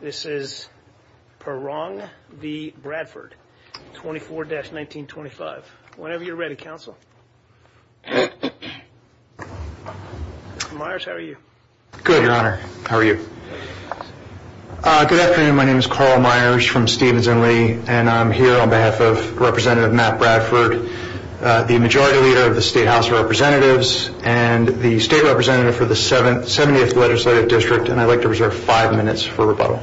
This is Perrong v. Bradford, 24-1925. Whenever you're ready, counsel. Mr. Myers, how are you? Good, Your Honor. How are you? Good afternoon. My name is Carl Myers from Stephens and Lee, and I'm here on behalf of Representative Matt Bradford, the Majority Leader of the State House of Representatives and the State Representative for the 70th Legislative District, and I'd like to reserve five minutes for rebuttal.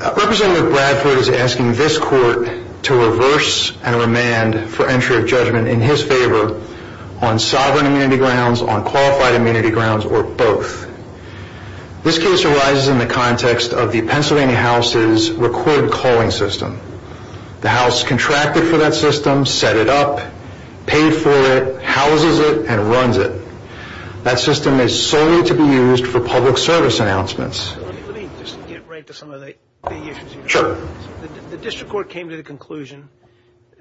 Representative Bradford is asking this Court to reverse and remand for entry of judgment in his favor on sovereign immunity grounds, on qualified immunity grounds, or both. This case arises in the context of the Pennsylvania House's record calling system. The House contracted for that system, set it up, paid for it, houses it, and runs it. That system is solely to be used for public service announcements. Let me just get right to some of the issues. Sure. The District Court came to the conclusion,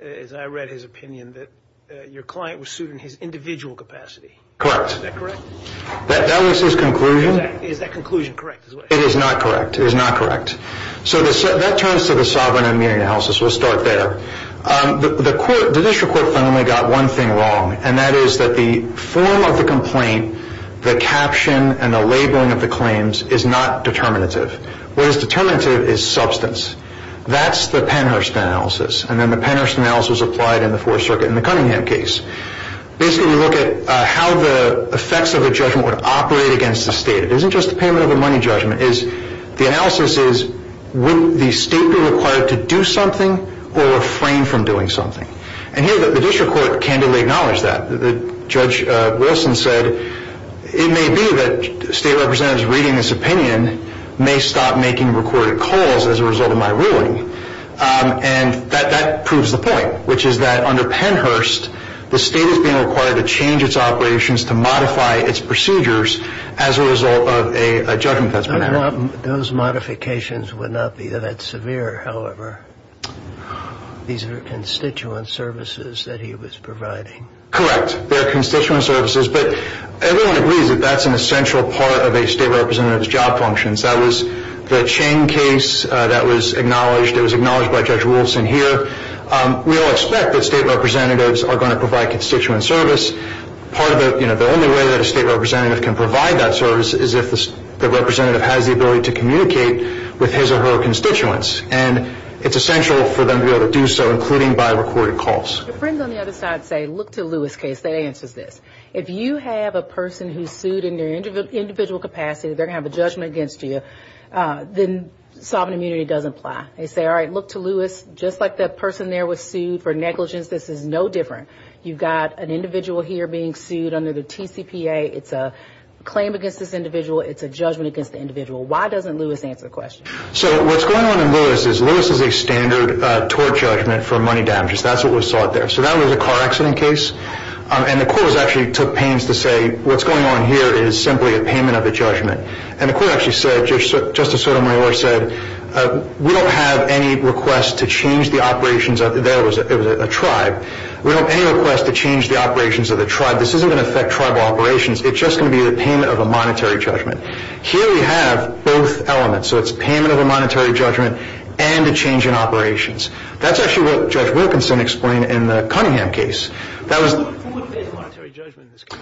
as I read his opinion, that your client was suing in his individual capacity. Correct. Is that correct? That was his conclusion. Is that conclusion correct? It is not correct. It is not correct. So that turns to the sovereign immunity analysis. We'll start there. The District Court finally got one thing wrong, and that is that the form of the complaint, the caption, and the labeling of the claims is not determinative. What is determinative is substance. That's the Pennhurst analysis, and then the Pennhurst analysis was applied in the Fourth Circuit in the Cunningham case. Basically, we look at how the effects of a judgment would operate against the State. It isn't just the payment of a money judgment. The analysis is, would the State be required to do something or refrain from doing something? And here, the District Court candidly acknowledged that. Judge Wilson said, it may be that State representatives reading this opinion may stop making recorded calls as a result of my ruling. And that proves the point, which is that under Pennhurst, the State is being required to change its operations to modify its procedures as a result of a judgment that's been had. Those modifications would not be that severe, however. These are constituent services that he was providing. Correct. They're constituent services. But everyone agrees that that's an essential part of a State representative's job functions. That was the Chang case that was acknowledged. It was acknowledged by Judge Wilson here. We all expect that State representatives are going to provide constituent service. Part of the, you know, the only way that a State representative can provide that service is if the representative has the ability to communicate with his or her constituents. And it's essential for them to be able to do so, including by recorded calls. Your friends on the other side say, look to Lewis' case. That answers this. If you have a person who's sued in their individual capacity, they're going to have a judgment against you, then sovereign immunity doesn't apply. They say, all right, look to Lewis. Just like that person there was sued for negligence, this is no different. You've got an individual here being sued under the TCPA. It's a claim against this individual. It's a judgment against the individual. Why doesn't Lewis answer the question? So what's going on in Lewis is Lewis is a standard tort judgment for money damages. That's what was sought there. So that was a car accident case. And the court actually took pains to say what's going on here is simply a payment of the judgment. And the court actually said, Justice Sotomayor said, we don't have any request to change the operations of the tribe. We don't have any request to change the operations of the tribe. This isn't going to affect tribal operations. It's just going to be the payment of a monetary judgment. Here we have both elements. So it's payment of a monetary judgment and a change in operations. That's actually what Judge Wilkinson explained in the Cunningham case. What would be the monetary judgment in this case?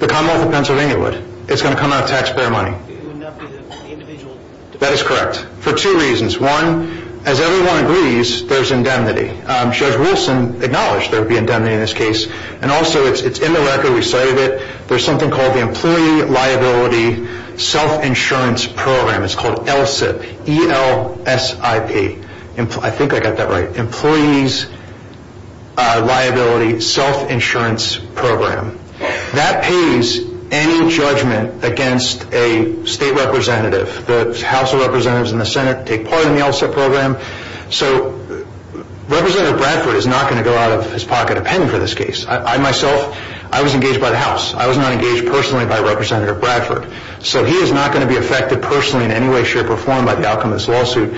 The Commonwealth of Pennsylvania would. It's going to come out of taxpayer money. It would not be the individual. That is correct for two reasons. One, as everyone agrees, there's indemnity. Judge Wilson acknowledged there would be indemnity in this case. And also, it's in the record. We cited it. There's something called the Employee Liability Self-Insurance Program. It's called ELSIP, E-L-S-I-P. I think I got that right, Employees Liability Self-Insurance Program. That pays any judgment against a state representative. The House of Representatives and the Senate take part in the ELSIP program. So Representative Bradford is not going to go out of his pocket a penny for this case. I, myself, I was engaged by the House. I was not engaged personally by Representative Bradford. So he is not going to be affected personally in any way, shape, or form by the outcome of this lawsuit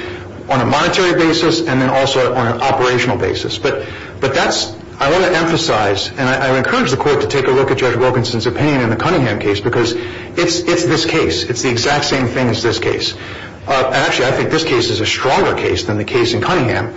on a monetary basis and then also on an operational basis. But that's, I want to emphasize, and I would encourage the court to take a look at Judge Wilkinson's opinion in the Cunningham case because it's this case. It's the exact same thing as this case. Actually, I think this case is a stronger case than the case in Cunningham.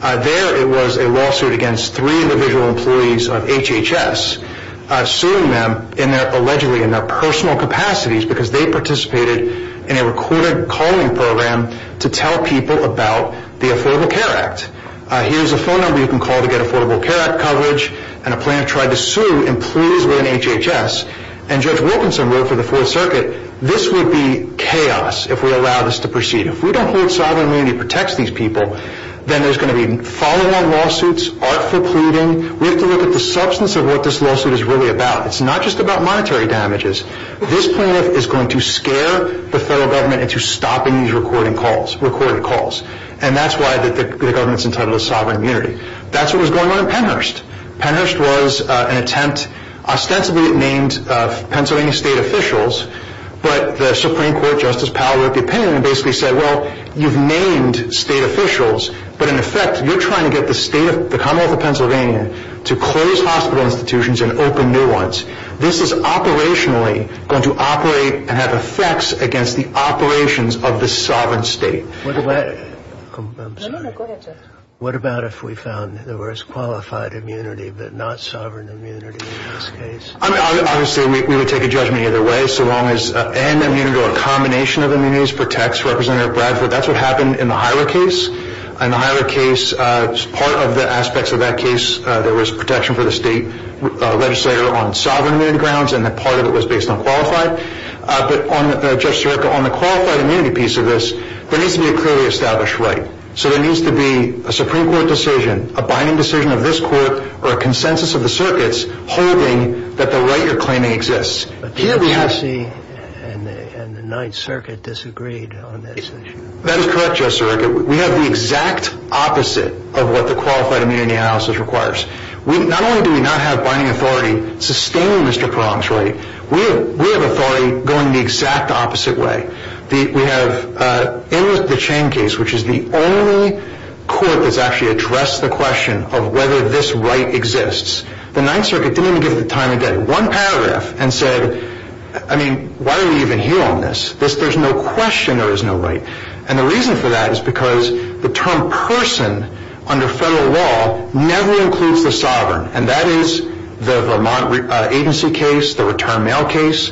There it was a lawsuit against three individual employees of HHS, suing them in their, allegedly, in their personal capacities because they participated in a recorded calling program to tell people about the Affordable Care Act. Here's a phone number you can call to get Affordable Care Act coverage. And a plaintiff tried to sue employees within HHS. And Judge Wilkinson wrote for the Fourth Circuit, this would be chaos if we allow this to proceed. If we don't hold sovereign immunity that protects these people, then there's going to be falling on lawsuits, artful pleading. We have to look at the substance of what this lawsuit is really about. It's not just about monetary damages. This plaintiff is going to scare the federal government into stopping these recording calls, recorded calls. And that's why the government's entitled to sovereign immunity. That's what was going on in Pennhurst. Pennhurst was an attempt, ostensibly it named Pennsylvania state officials, but the Supreme Court Justice Powell wrote the opinion and basically said, well, you've named state officials, but in effect, you're trying to get the Commonwealth of Pennsylvania to close hospital institutions and open new ones. This is operationally going to operate and have effects against the operations of the sovereign state. I'm sorry. What about if we found there was qualified immunity but not sovereign immunity in this case? I mean, obviously, we would take a judgment either way so long as and immunity or a combination of immunities protects Representative Bradford. That's what happened in the Hira case. In the Hira case, part of the aspects of that case, there was protection for the state legislator on sovereign immunity grounds, and a part of it was based on qualified. But, Judge Sirica, on the qualified immunity piece of this, there needs to be a clearly established right. So there needs to be a Supreme Court decision, a binding decision of this court, or a consensus of the circuits holding that the right you're claiming exists. But the FCC and the Ninth Circuit disagreed on this issue. That is correct, Judge Sirica. We have the exact opposite of what the qualified immunity analysis requires. Not only do we not have binding authority sustaining Mr. Perron's right, we have authority going the exact opposite way. We have, in the Chang case, which is the only court that's actually addressed the question of whether this right exists, the Ninth Circuit didn't even give it the time of day, one paragraph, and said, I mean, why are we even here on this? There's no question there is no right. And the reason for that is because the term person under federal law never includes the sovereign, and that is the Vermont agency case, the return mail case,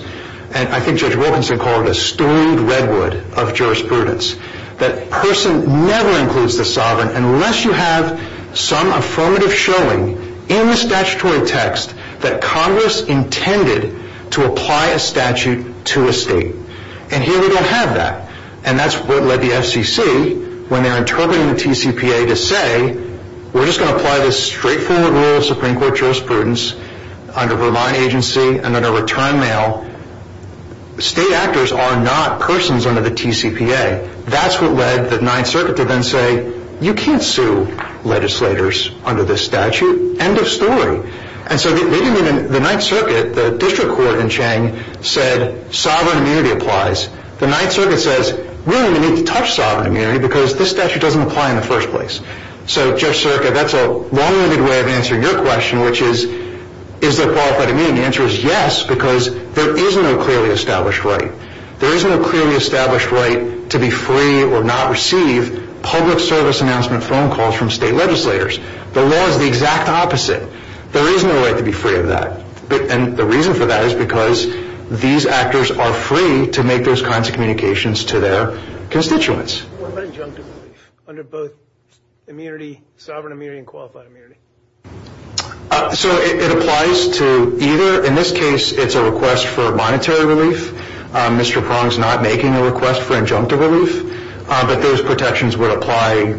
and I think Judge Wilkinson called it a stooled redwood of jurisprudence. That person never includes the sovereign unless you have some affirmative showing in the statutory text that Congress intended to apply a statute to a state. And here we don't have that. And that's what led the FCC, when they're interpreting the TCPA, to say, we're just going to apply this straightforward rule of Supreme Court jurisprudence under Vermont agency and under return mail. State actors are not persons under the TCPA. That's what led the Ninth Circuit to then say, you can't sue legislators under this statute. End of story. And so the Ninth Circuit, the district court in Chang, said, sovereign immunity applies. The Ninth Circuit says, we don't even need to touch sovereign immunity because this statute doesn't apply in the first place. So, Judge Sirka, that's a long-winded way of answering your question, which is, is there qualified immunity? And the answer is yes, because there is no clearly established right. There is no clearly established right to be free or not receive public service announcement phone calls from state legislators. The law is the exact opposite. There is no right to be free of that. And the reason for that is because these actors are free to make those kinds of communications to their constituents. What about injunctive relief under both immunity, sovereign immunity and qualified immunity? So it applies to either. In this case, it's a request for monetary relief. Mr. Prong is not making a request for injunctive relief. But those protections would apply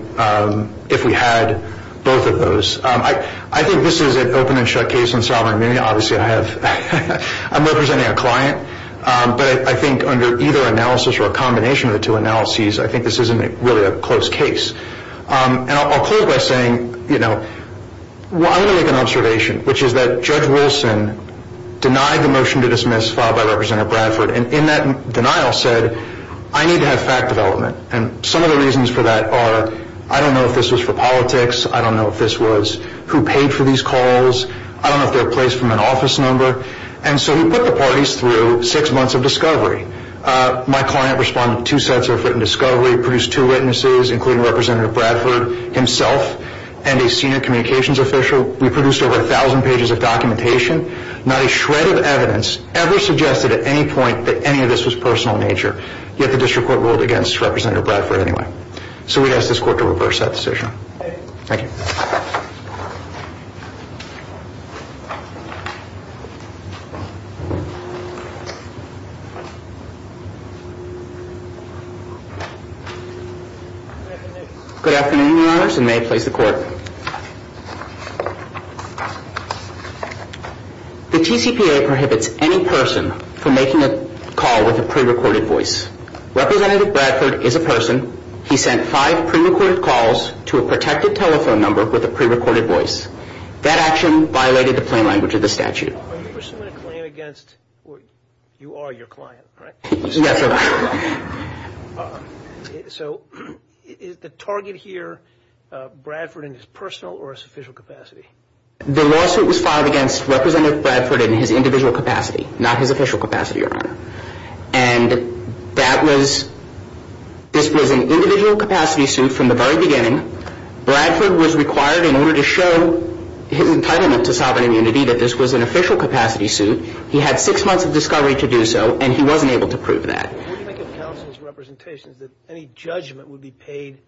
if we had both of those. I think this is an open and shut case on sovereign immunity. Obviously, I have, I'm representing a client. But I think under either analysis or a combination of the two analyses, I think this isn't really a close case. And I'll close by saying, you know, I'm going to make an observation, which is that Judge Wilson denied the motion to dismiss filed by Representative Bradford. And in that denial said, I need to have fact development. And some of the reasons for that are, I don't know if this was for politics. I don't know if this was who paid for these calls. I don't know if they were placed from an office number. And so he put the parties through six months of discovery. My client responded with two sets of written discovery, produced two witnesses, including Representative Bradford himself and a senior communications official. We produced over 1,000 pages of documentation. Not a shred of evidence ever suggested at any point that any of this was personal in nature. Yet the district court ruled against Representative Bradford anyway. So we'd ask this court to reverse that decision. Thank you. Good afternoon, Your Honors, and may I please the court. The TCPA prohibits any person from making a call with a prerecorded voice. Representative Bradford is a person. He sent five prerecorded calls to a protected telephone number with a prerecorded voice. That action violated the plain language of the statute. Are you pursuing a claim against, you are your client, right? Yes, sir. So is the target here Bradford in his personal or his official capacity? The lawsuit was filed against Representative Bradford in his individual capacity, not his official capacity, Your Honor. And that was, this was an individual capacity suit from the very beginning. Bradford was required in order to show his entitlement to sovereign immunity that this was an official capacity suit. He had six months of discovery to do so, and he wasn't able to prove that. When you think of counsel's representations that any judgment would be paid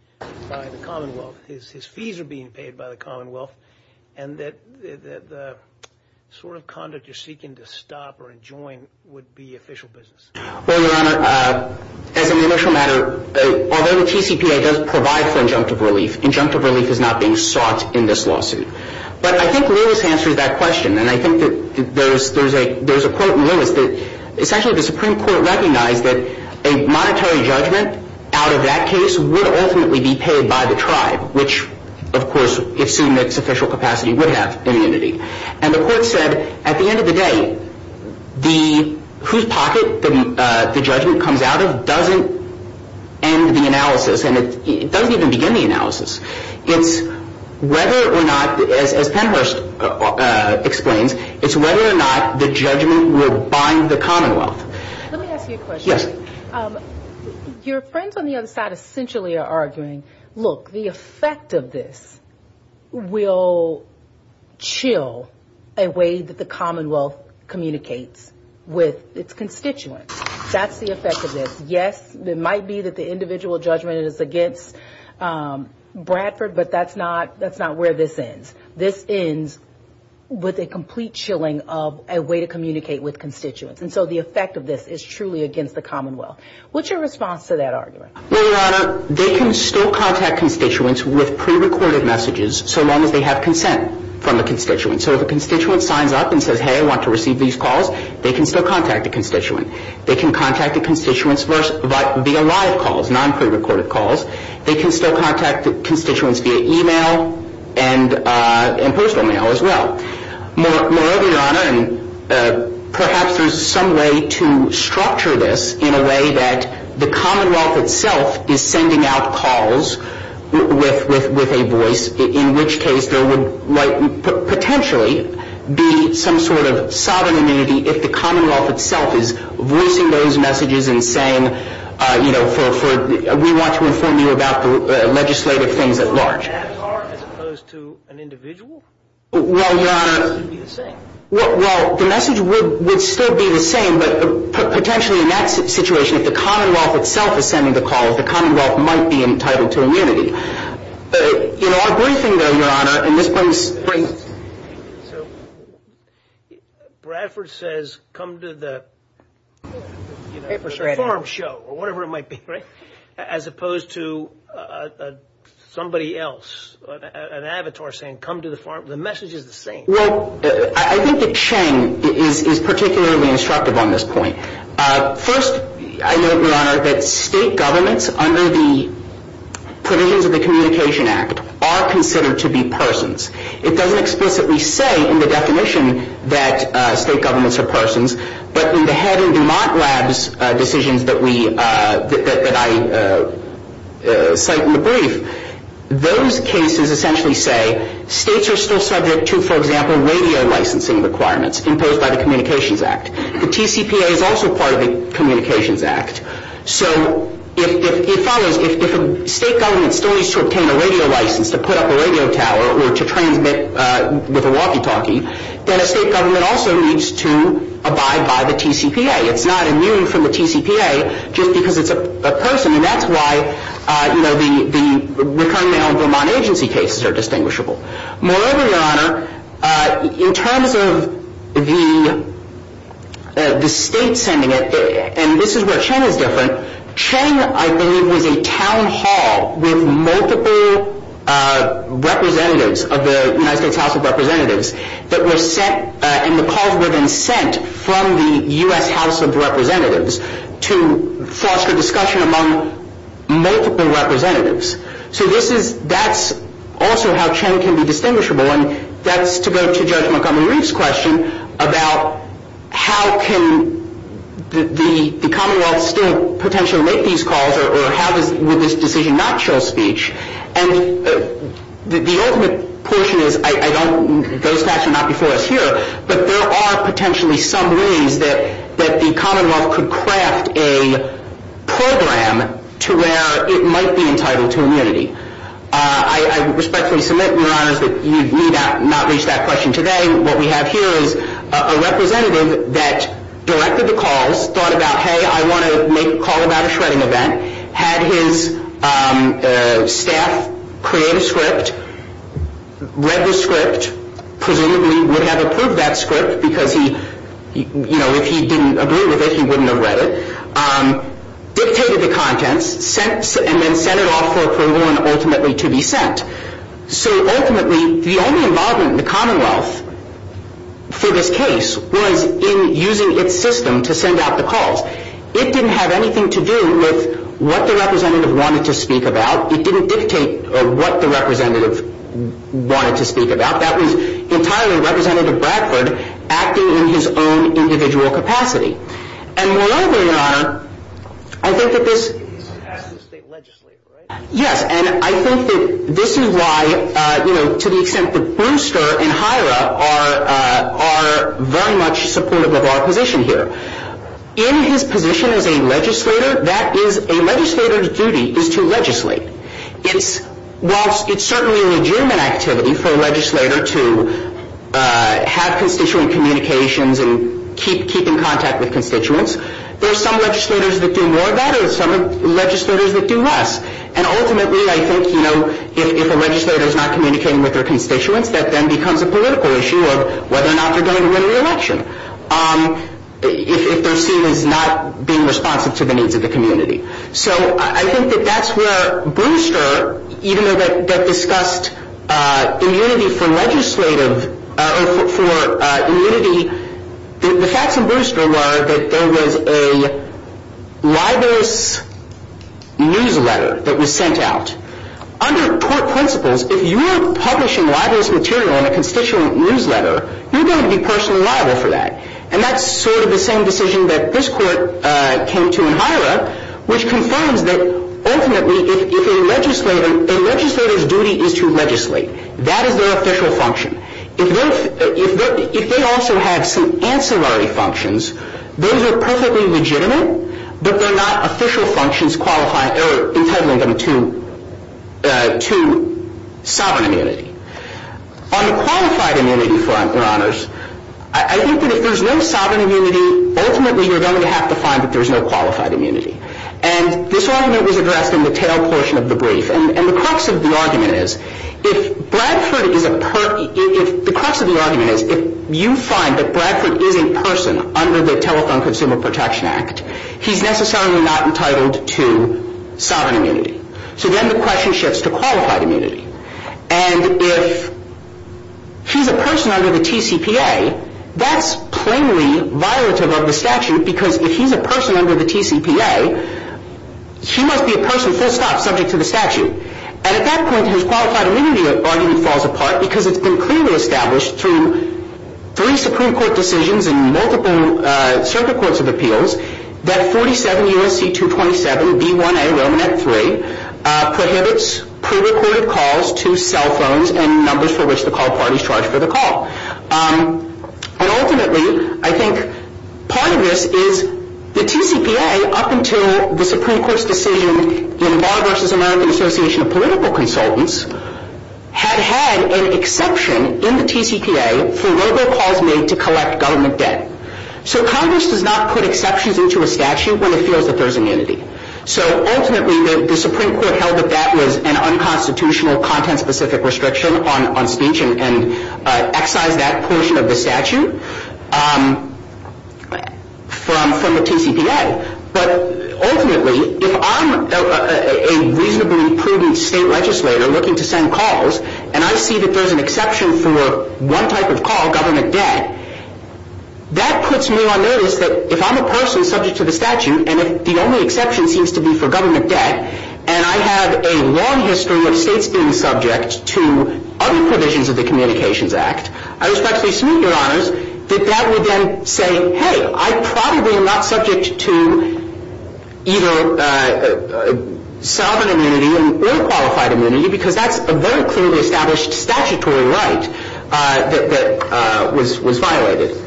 by the Commonwealth, his fees are being paid by the Commonwealth, and that the sort of conduct you're seeking to stop or enjoin would be official business. Well, Your Honor, as an initial matter, although the TCPA does provide for injunctive relief, injunctive relief is not being sought in this lawsuit. But I think Lewis answered that question, and I think that there's a quote in Lewis that essentially the Supreme Court recognized that a monetary judgment out of that case would ultimately be paid by the tribe, which, of course, assuming its official capacity, would have immunity. And the court said at the end of the day, whose pocket the judgment comes out of doesn't end the analysis, and it doesn't even begin the analysis. It's whether or not, as Pennhurst explains, it's whether or not the judgment would bind the Commonwealth. Let me ask you a question. Yes. Your friends on the other side essentially are arguing, look, the effect of this will chill a way that the Commonwealth communicates with its constituents. That's the effect of this. Yes, it might be that the individual judgment is against Bradford, but that's not where this ends. This ends with a complete chilling of a way to communicate with constituents. And so the effect of this is truly against the Commonwealth. What's your response to that argument? Well, Your Honor, they can still contact constituents with prerecorded messages, so long as they have consent from a constituent. So if a constituent signs up and says, hey, I want to receive these calls, they can still contact a constituent. They can contact a constituent via live calls, non-prerecorded calls. They can still contact constituents via e-mail and postal mail as well. Moreover, Your Honor, perhaps there's some way to structure this in a way that the Commonwealth itself is sending out calls with a voice, in which case there would potentially be some sort of sovereign immunity if the Commonwealth itself is voicing those messages and saying, you know, we want to inform you about the legislative things at large. So an avatar as opposed to an individual? Well, Your Honor, well, the message would still be the same, but potentially in that situation if the Commonwealth itself is sending the call, the Commonwealth might be entitled to immunity. You know, our briefing, though, Your Honor, and this brings – So Bradford says come to the farm show or whatever it might be, right, as opposed to somebody else, an avatar saying come to the farm. The message is the same. Well, I think that Chang is particularly instructive on this point. First, I note, Your Honor, that state governments under the provisions of the Communication Act are considered to be persons. It doesn't explicitly say in the definition that state governments are persons, but in the Head and DuMont Labs decisions that I cite in the brief, those cases essentially say states are still subject to, for example, radio licensing requirements imposed by the Communications Act. The TCPA is also part of the Communications Act. So it follows if a state government still needs to obtain a radio license to put up a radio tower or to transmit with a walkie-talkie, then a state government also needs to abide by the TCPA. It's not immune from the TCPA just because it's a person, and that's why the recurring mail and DuMont agency cases are distinguishable. Moreover, Your Honor, in terms of the state sending it, and this is where Chang is different, Chang, I believe, was a town hall with multiple representatives of the United States House of Representatives that were sent, and the calls were then sent from the U.S. House of Representatives to foster discussion among multiple representatives. So this is, that's also how Chang can be distinguishable, and that's to go to Judge Montgomery's question about how can the Commonwealth still potentially make these calls or how would this decision not show speech. And the ultimate question is, I don't, those facts are not before us here, but there are potentially some ways that the Commonwealth could craft a program to where it might be entitled to immunity. I respectfully submit, Your Honor, that you need not reach that question today. What we have here is a representative that directed the calls, thought about, hey, I want to make a call about a shredding event, had his staff create a script, read the script, presumably would have approved that script because he, you know, if he didn't agree with it, he wouldn't have read it, dictated the contents, and then sent it off for approval and ultimately to be sent. So ultimately, the only involvement in the Commonwealth for this case was in using its system to send out the calls. It didn't have anything to do with what the representative wanted to speak about. It didn't dictate what the representative wanted to speak about. That was entirely Representative Bradford acting in his own individual capacity. And moreover, Your Honor, I think that this- He's an active state legislator, right? Yes, and I think that this is why, you know, to the extent that Brewster and Hira are very much supportive of our position here. In his position as a legislator, that is a legislator's duty is to legislate. It's certainly an adjournment activity for a legislator to have constituent communications and keep in contact with constituents. There are some legislators that do more of that or some legislators that do less. And ultimately, I think, you know, if a legislator is not communicating with their constituents, that then becomes a political issue of whether or not they're going to win the election, if they're seen as not being responsive to the needs of the community. So I think that that's where Brewster, even though that discussed immunity for legislative- for immunity, the facts in Brewster were that there was a libelous newsletter that was sent out. Under court principles, if you're publishing libelous material in a constituent newsletter, you're going to be personally liable for that. And that's sort of the same decision that this court came to in Hira, which confirms that ultimately if a legislator- a legislator's duty is to legislate. That is their official function. If they also have some ancillary functions, those are perfectly legitimate, but they're not official functions qualifying or entitling them to sovereign immunity. On the qualified immunity front, Your Honors, I think that if there's no sovereign immunity, ultimately you're going to have to find that there's no qualified immunity. And this argument was addressed in the tail portion of the brief. And the crux of the argument is, if Bradford is a- the crux of the argument is, if you find that Bradford is in person under the Telephone Consumer Protection Act, he's necessarily not entitled to sovereign immunity. So then the question shifts to qualified immunity. And if he's a person under the TCPA, that's plainly violative of the statute, because if he's a person under the TCPA, he must be a person full stop, subject to the statute. And at that point, his qualified immunity argument falls apart, because it's been clearly established through three Supreme Court decisions and multiple circuit courts of appeals, that 47 U.S.C. 227, B1A, Romanette 3, prohibits prerecorded calls to cell phones and numbers for which the call party is charged for the call. And ultimately, I think part of this is the TCPA, up until the Supreme Court's decision in Barr v. American Association of Political Consultants, had had an exception in the TCPA for robocalls made to collect government debt. So Congress does not put exceptions into a statute when it feels that there's immunity. So ultimately, the Supreme Court held that that was an unconstitutional, content-specific restriction on speech and excised that portion of the statute from the TCPA. But ultimately, if I'm a reasonably prudent state legislator looking to send calls, and I see that there's an exception for one type of call, government debt, that puts me on notice that if I'm a person subject to the statute, and if the only exception seems to be for government debt, and I have a long history of states being subject to other provisions of the Communications Act, I respectfully submit, Your Honors, that that would then say, hey, I probably am not subject to either sovereign immunity or qualified immunity, because that's a very clearly established statutory right that was violated.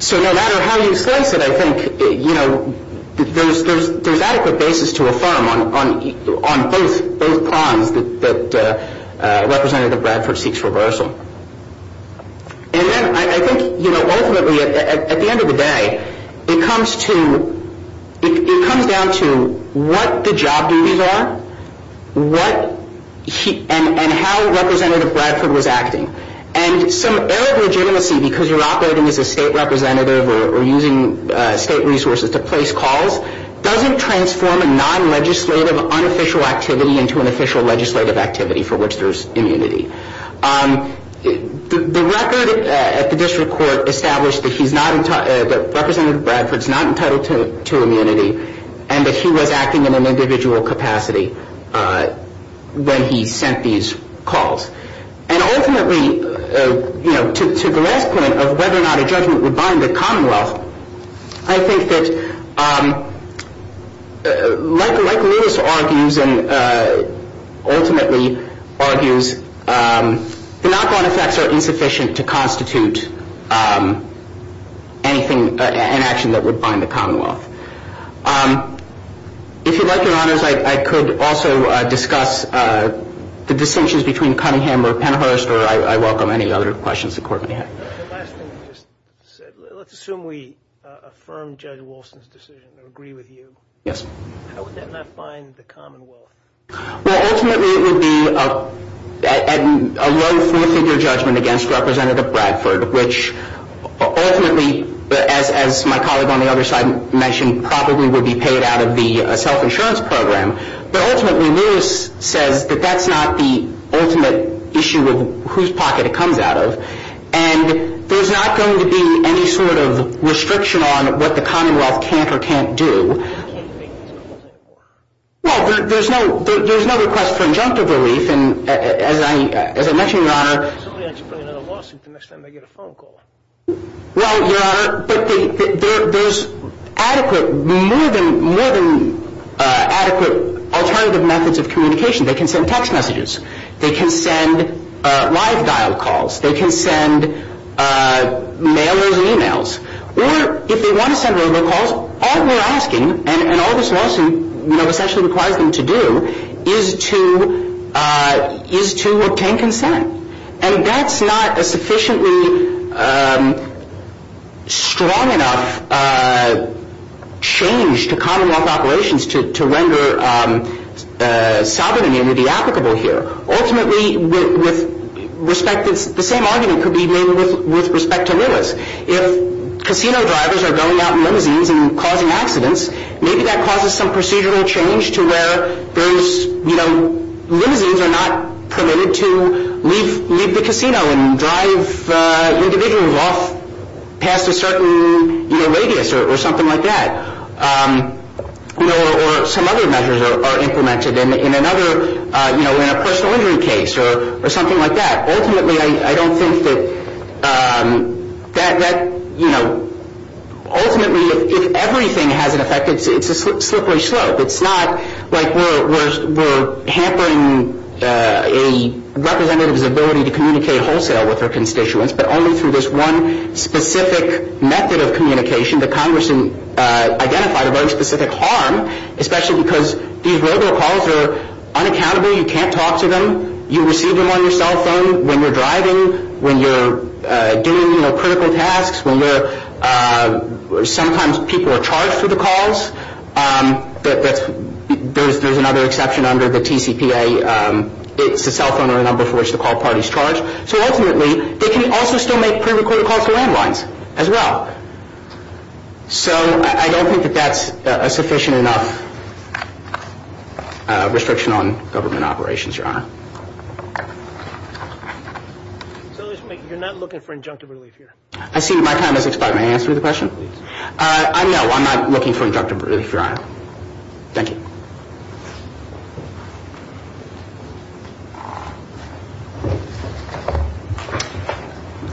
So no matter how you slice it, I think there's adequate basis to affirm on both prongs that Representative Bradford seeks reversal. And then I think ultimately, at the end of the day, it comes down to what the job duties are, and how Representative Bradford was acting. And some error of legitimacy, because you're operating as a state representative or using state resources to place calls, doesn't transform a non-legislative, unofficial activity into an official legislative activity for which there's immunity. The record at the district court established that Representative Bradford's not entitled to immunity, and that he was acting in an individual capacity when he sent these calls. And ultimately, to the last point of whether or not a judgment would bind the Commonwealth, I think that, like Lewis argues and ultimately argues, the knock-on effects are insufficient to constitute anything, an action that would bind the Commonwealth. If you'd like, Your Honors, I could also discuss the distinctions between Cunningham or Pennhurst, or I welcome any other questions the Court may have. The last thing you just said, let's assume we affirm Judge Wilson's decision and agree with you. Yes. How would that not bind the Commonwealth? Well, ultimately, it would be a low four-figure judgment against Representative Bradford, which ultimately, as my colleague on the other side mentioned, probably would be paid out of the self-insurance program. But ultimately, Lewis says that that's not the ultimate issue of whose pocket it comes out of. And there's not going to be any sort of restriction on what the Commonwealth can't or can't do. Well, there's no request for injunctive relief. And as I mentioned, Your Honor, I'm not going to bring another lawsuit the next time I get a phone call. Well, Your Honor, there's adequate, more than adequate alternative methods of communication. They can send text messages. They can send live dial calls. They can send mails and e-mails. Or if they want to send over calls, all we're asking, and all this lawsuit essentially requires them to do, is to obtain consent. And that's not a sufficiently strong enough change to Commonwealth operations to render sovereignty to be applicable here. Ultimately, the same argument could be made with respect to Lewis. If casino drivers are going out in limousines and causing accidents, maybe that causes some procedural change to where there's, you know, limousines are not permitted to leave the casino and drive individuals off past a certain radius or something like that. Or some other measures are implemented in another, you know, in a personal injury case or something like that. Ultimately, I don't think that, you know, ultimately if everything has an effect, it's a slippery slope. It's not like we're hampering a representative's ability to communicate wholesale with her constituents, but only through this one specific method of communication that Congress identified a very specific harm, especially because these mobile calls are unaccountable. You can't talk to them. You receive them on your cell phone when you're driving, when you're doing, you know, critical tasks, when you're sometimes people are charged for the calls. There's another exception under the TCPA. It's a cell phone or a number for which the call party is charged. So ultimately, they can also still make pre-recorded calls to landlines as well. So I don't think that that's a sufficient enough restriction on government operations, Your Honor. So you're not looking for injunctive relief here? I see my time has expired. May I answer the question? Please. No, I'm not looking for injunctive relief, Your Honor. Thank you.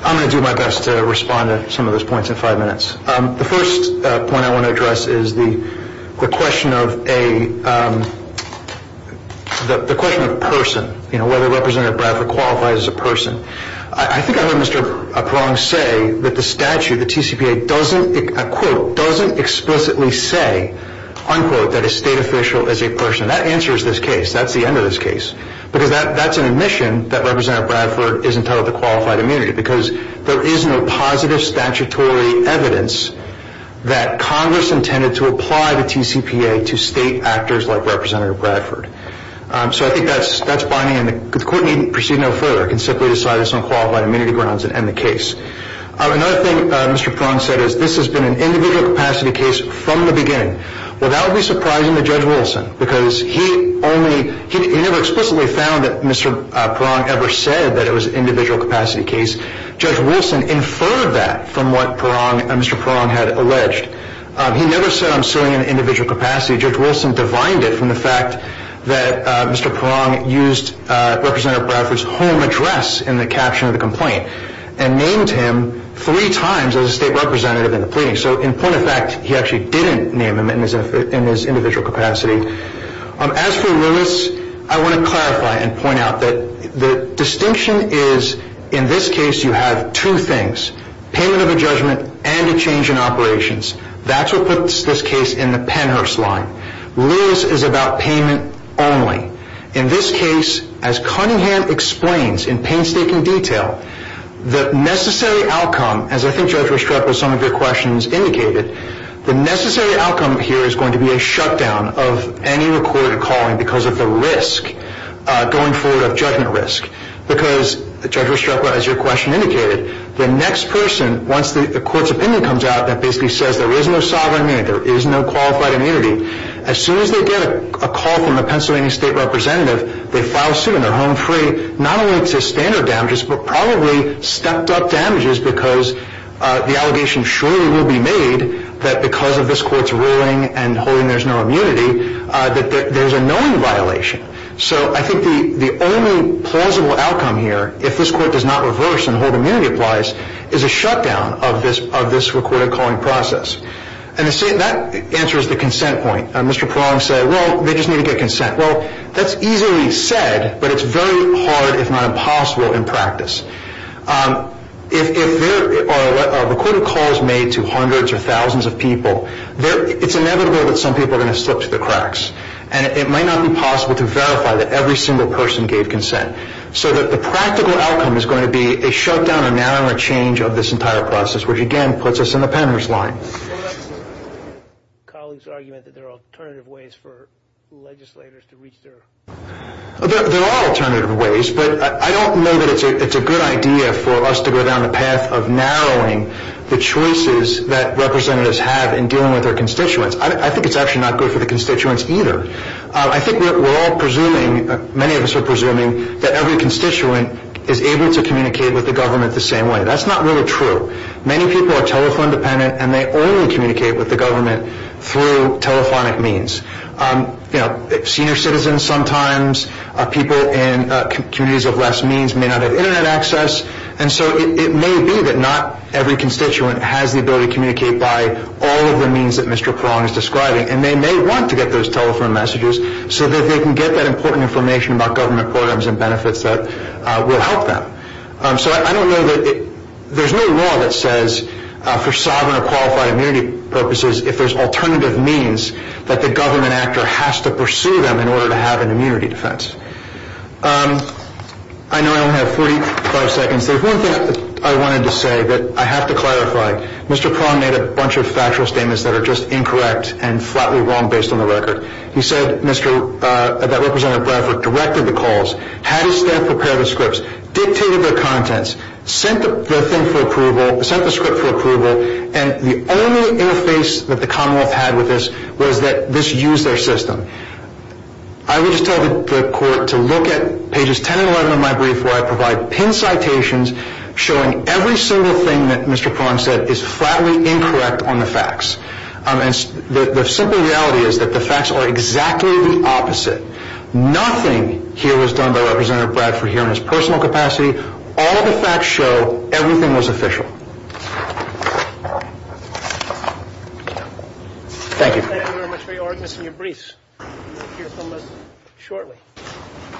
I'm going to do my best to respond to some of those points in five minutes. The first point I want to address is the question of a person, you know, whether Representative Bradford qualifies as a person. I think I heard Mr. Prong say that the statute, the TCPA, doesn't explicitly say, unquote, that a state official is a person. That answers this case. That's the end of this case. Because that's an admission that Representative Bradford is entitled to qualified immunity because there is no positive statutory evidence that Congress intended to apply the TCPA to state actors like Representative Bradford. So I think that's binding, and the Court needn't proceed no further. It can simply decide this on qualified immunity grounds and end the case. Another thing Mr. Prong said is this has been an individual capacity case from the beginning. Well, that would be surprising to Judge Wilson because he only, he never explicitly found that Mr. Prong ever said that it was an individual capacity case. Judge Wilson inferred that from what Mr. Prong had alleged. He never said I'm suing an individual capacity. Judge Wilson divined it from the fact that Mr. Prong used Representative Bradford's home address in the caption of the complaint and named him three times as a state representative in the pleading. So in point of fact, he actually didn't name him in his individual capacity. As for Lewis, I want to clarify and point out that the distinction is in this case you have two things, payment of a judgment and a change in operations. That's what puts this case in the Pennhurst line. Lewis is about payment only. In this case, as Cunningham explains in painstaking detail, the necessary outcome, as I think Judge Restrepo, some of your questions indicated, the necessary outcome here is going to be a shutdown of any recorded calling because of the risk going forward of judgment risk. Because, Judge Restrepo, as your question indicated, the next person, once the court's opinion comes out that basically says there is no sovereign immunity, there is no qualified immunity, as soon as they get a call from the Pennsylvania state representative, they file suit and they're home free, not only to standard damages, but probably stepped-up damages because the allegation surely will be made that because of this court's ruling and holding there's no immunity, that there's a knowing violation. So I think the only plausible outcome here, if this court does not reverse and hold immunity applies, is a shutdown of this recorded calling process. And that answers the consent point. Well, they just need to get consent. Well, that's easily said, but it's very hard, if not impossible, in practice. If there are recorded calls made to hundreds or thousands of people, it's inevitable that some people are going to slip through the cracks. And it might not be possible to verify that every single person gave consent. So the practical outcome is going to be a shutdown or narrowing or change of this entire process, which, again, puts us in the penner's line. Colleagues argue that there are alternative ways for legislators to reach their constituents. There are alternative ways, but I don't know that it's a good idea for us to go down the path of narrowing the choices that representatives have in dealing with their constituents. I think it's actually not good for the constituents either. I think we're all presuming, many of us are presuming, that every constituent is able to communicate with the government the same way. That's not really true. Many people are telephone-dependent, and they only communicate with the government through telephonic means. You know, senior citizens sometimes, people in communities of less means may not have Internet access. And so it may be that not every constituent has the ability to communicate by all of the means that Mr. Perron is describing, and they may want to get those telephone messages so that they can get that important information about government programs and benefits that will help them. So I don't know that there's no law that says for sovereign or qualified immunity purposes if there's alternative means that the government actor has to pursue them in order to have an immunity defense. I know I only have 45 seconds. There's one thing I wanted to say that I have to clarify. Mr. Perron made a bunch of factual statements that are just incorrect and flatly wrong based on the record. He said that Representative Bradford directed the calls, had his staff prepare the scripts, dictated their contents, sent the thing for approval, sent the script for approval, and the only interface that the Commonwealth had with this was that this used their system. I would just tell the court to look at pages 10 and 11 of my brief where I provide pin citations showing every single thing that Mr. Perron said is flatly incorrect on the facts. The simple reality is that the facts are exactly the opposite. Nothing here was done by Representative Bradford here in his personal capacity. All the facts show everything was official. Thank you. Thank you very much for your ordinance and your briefs. We'll hear from us shortly.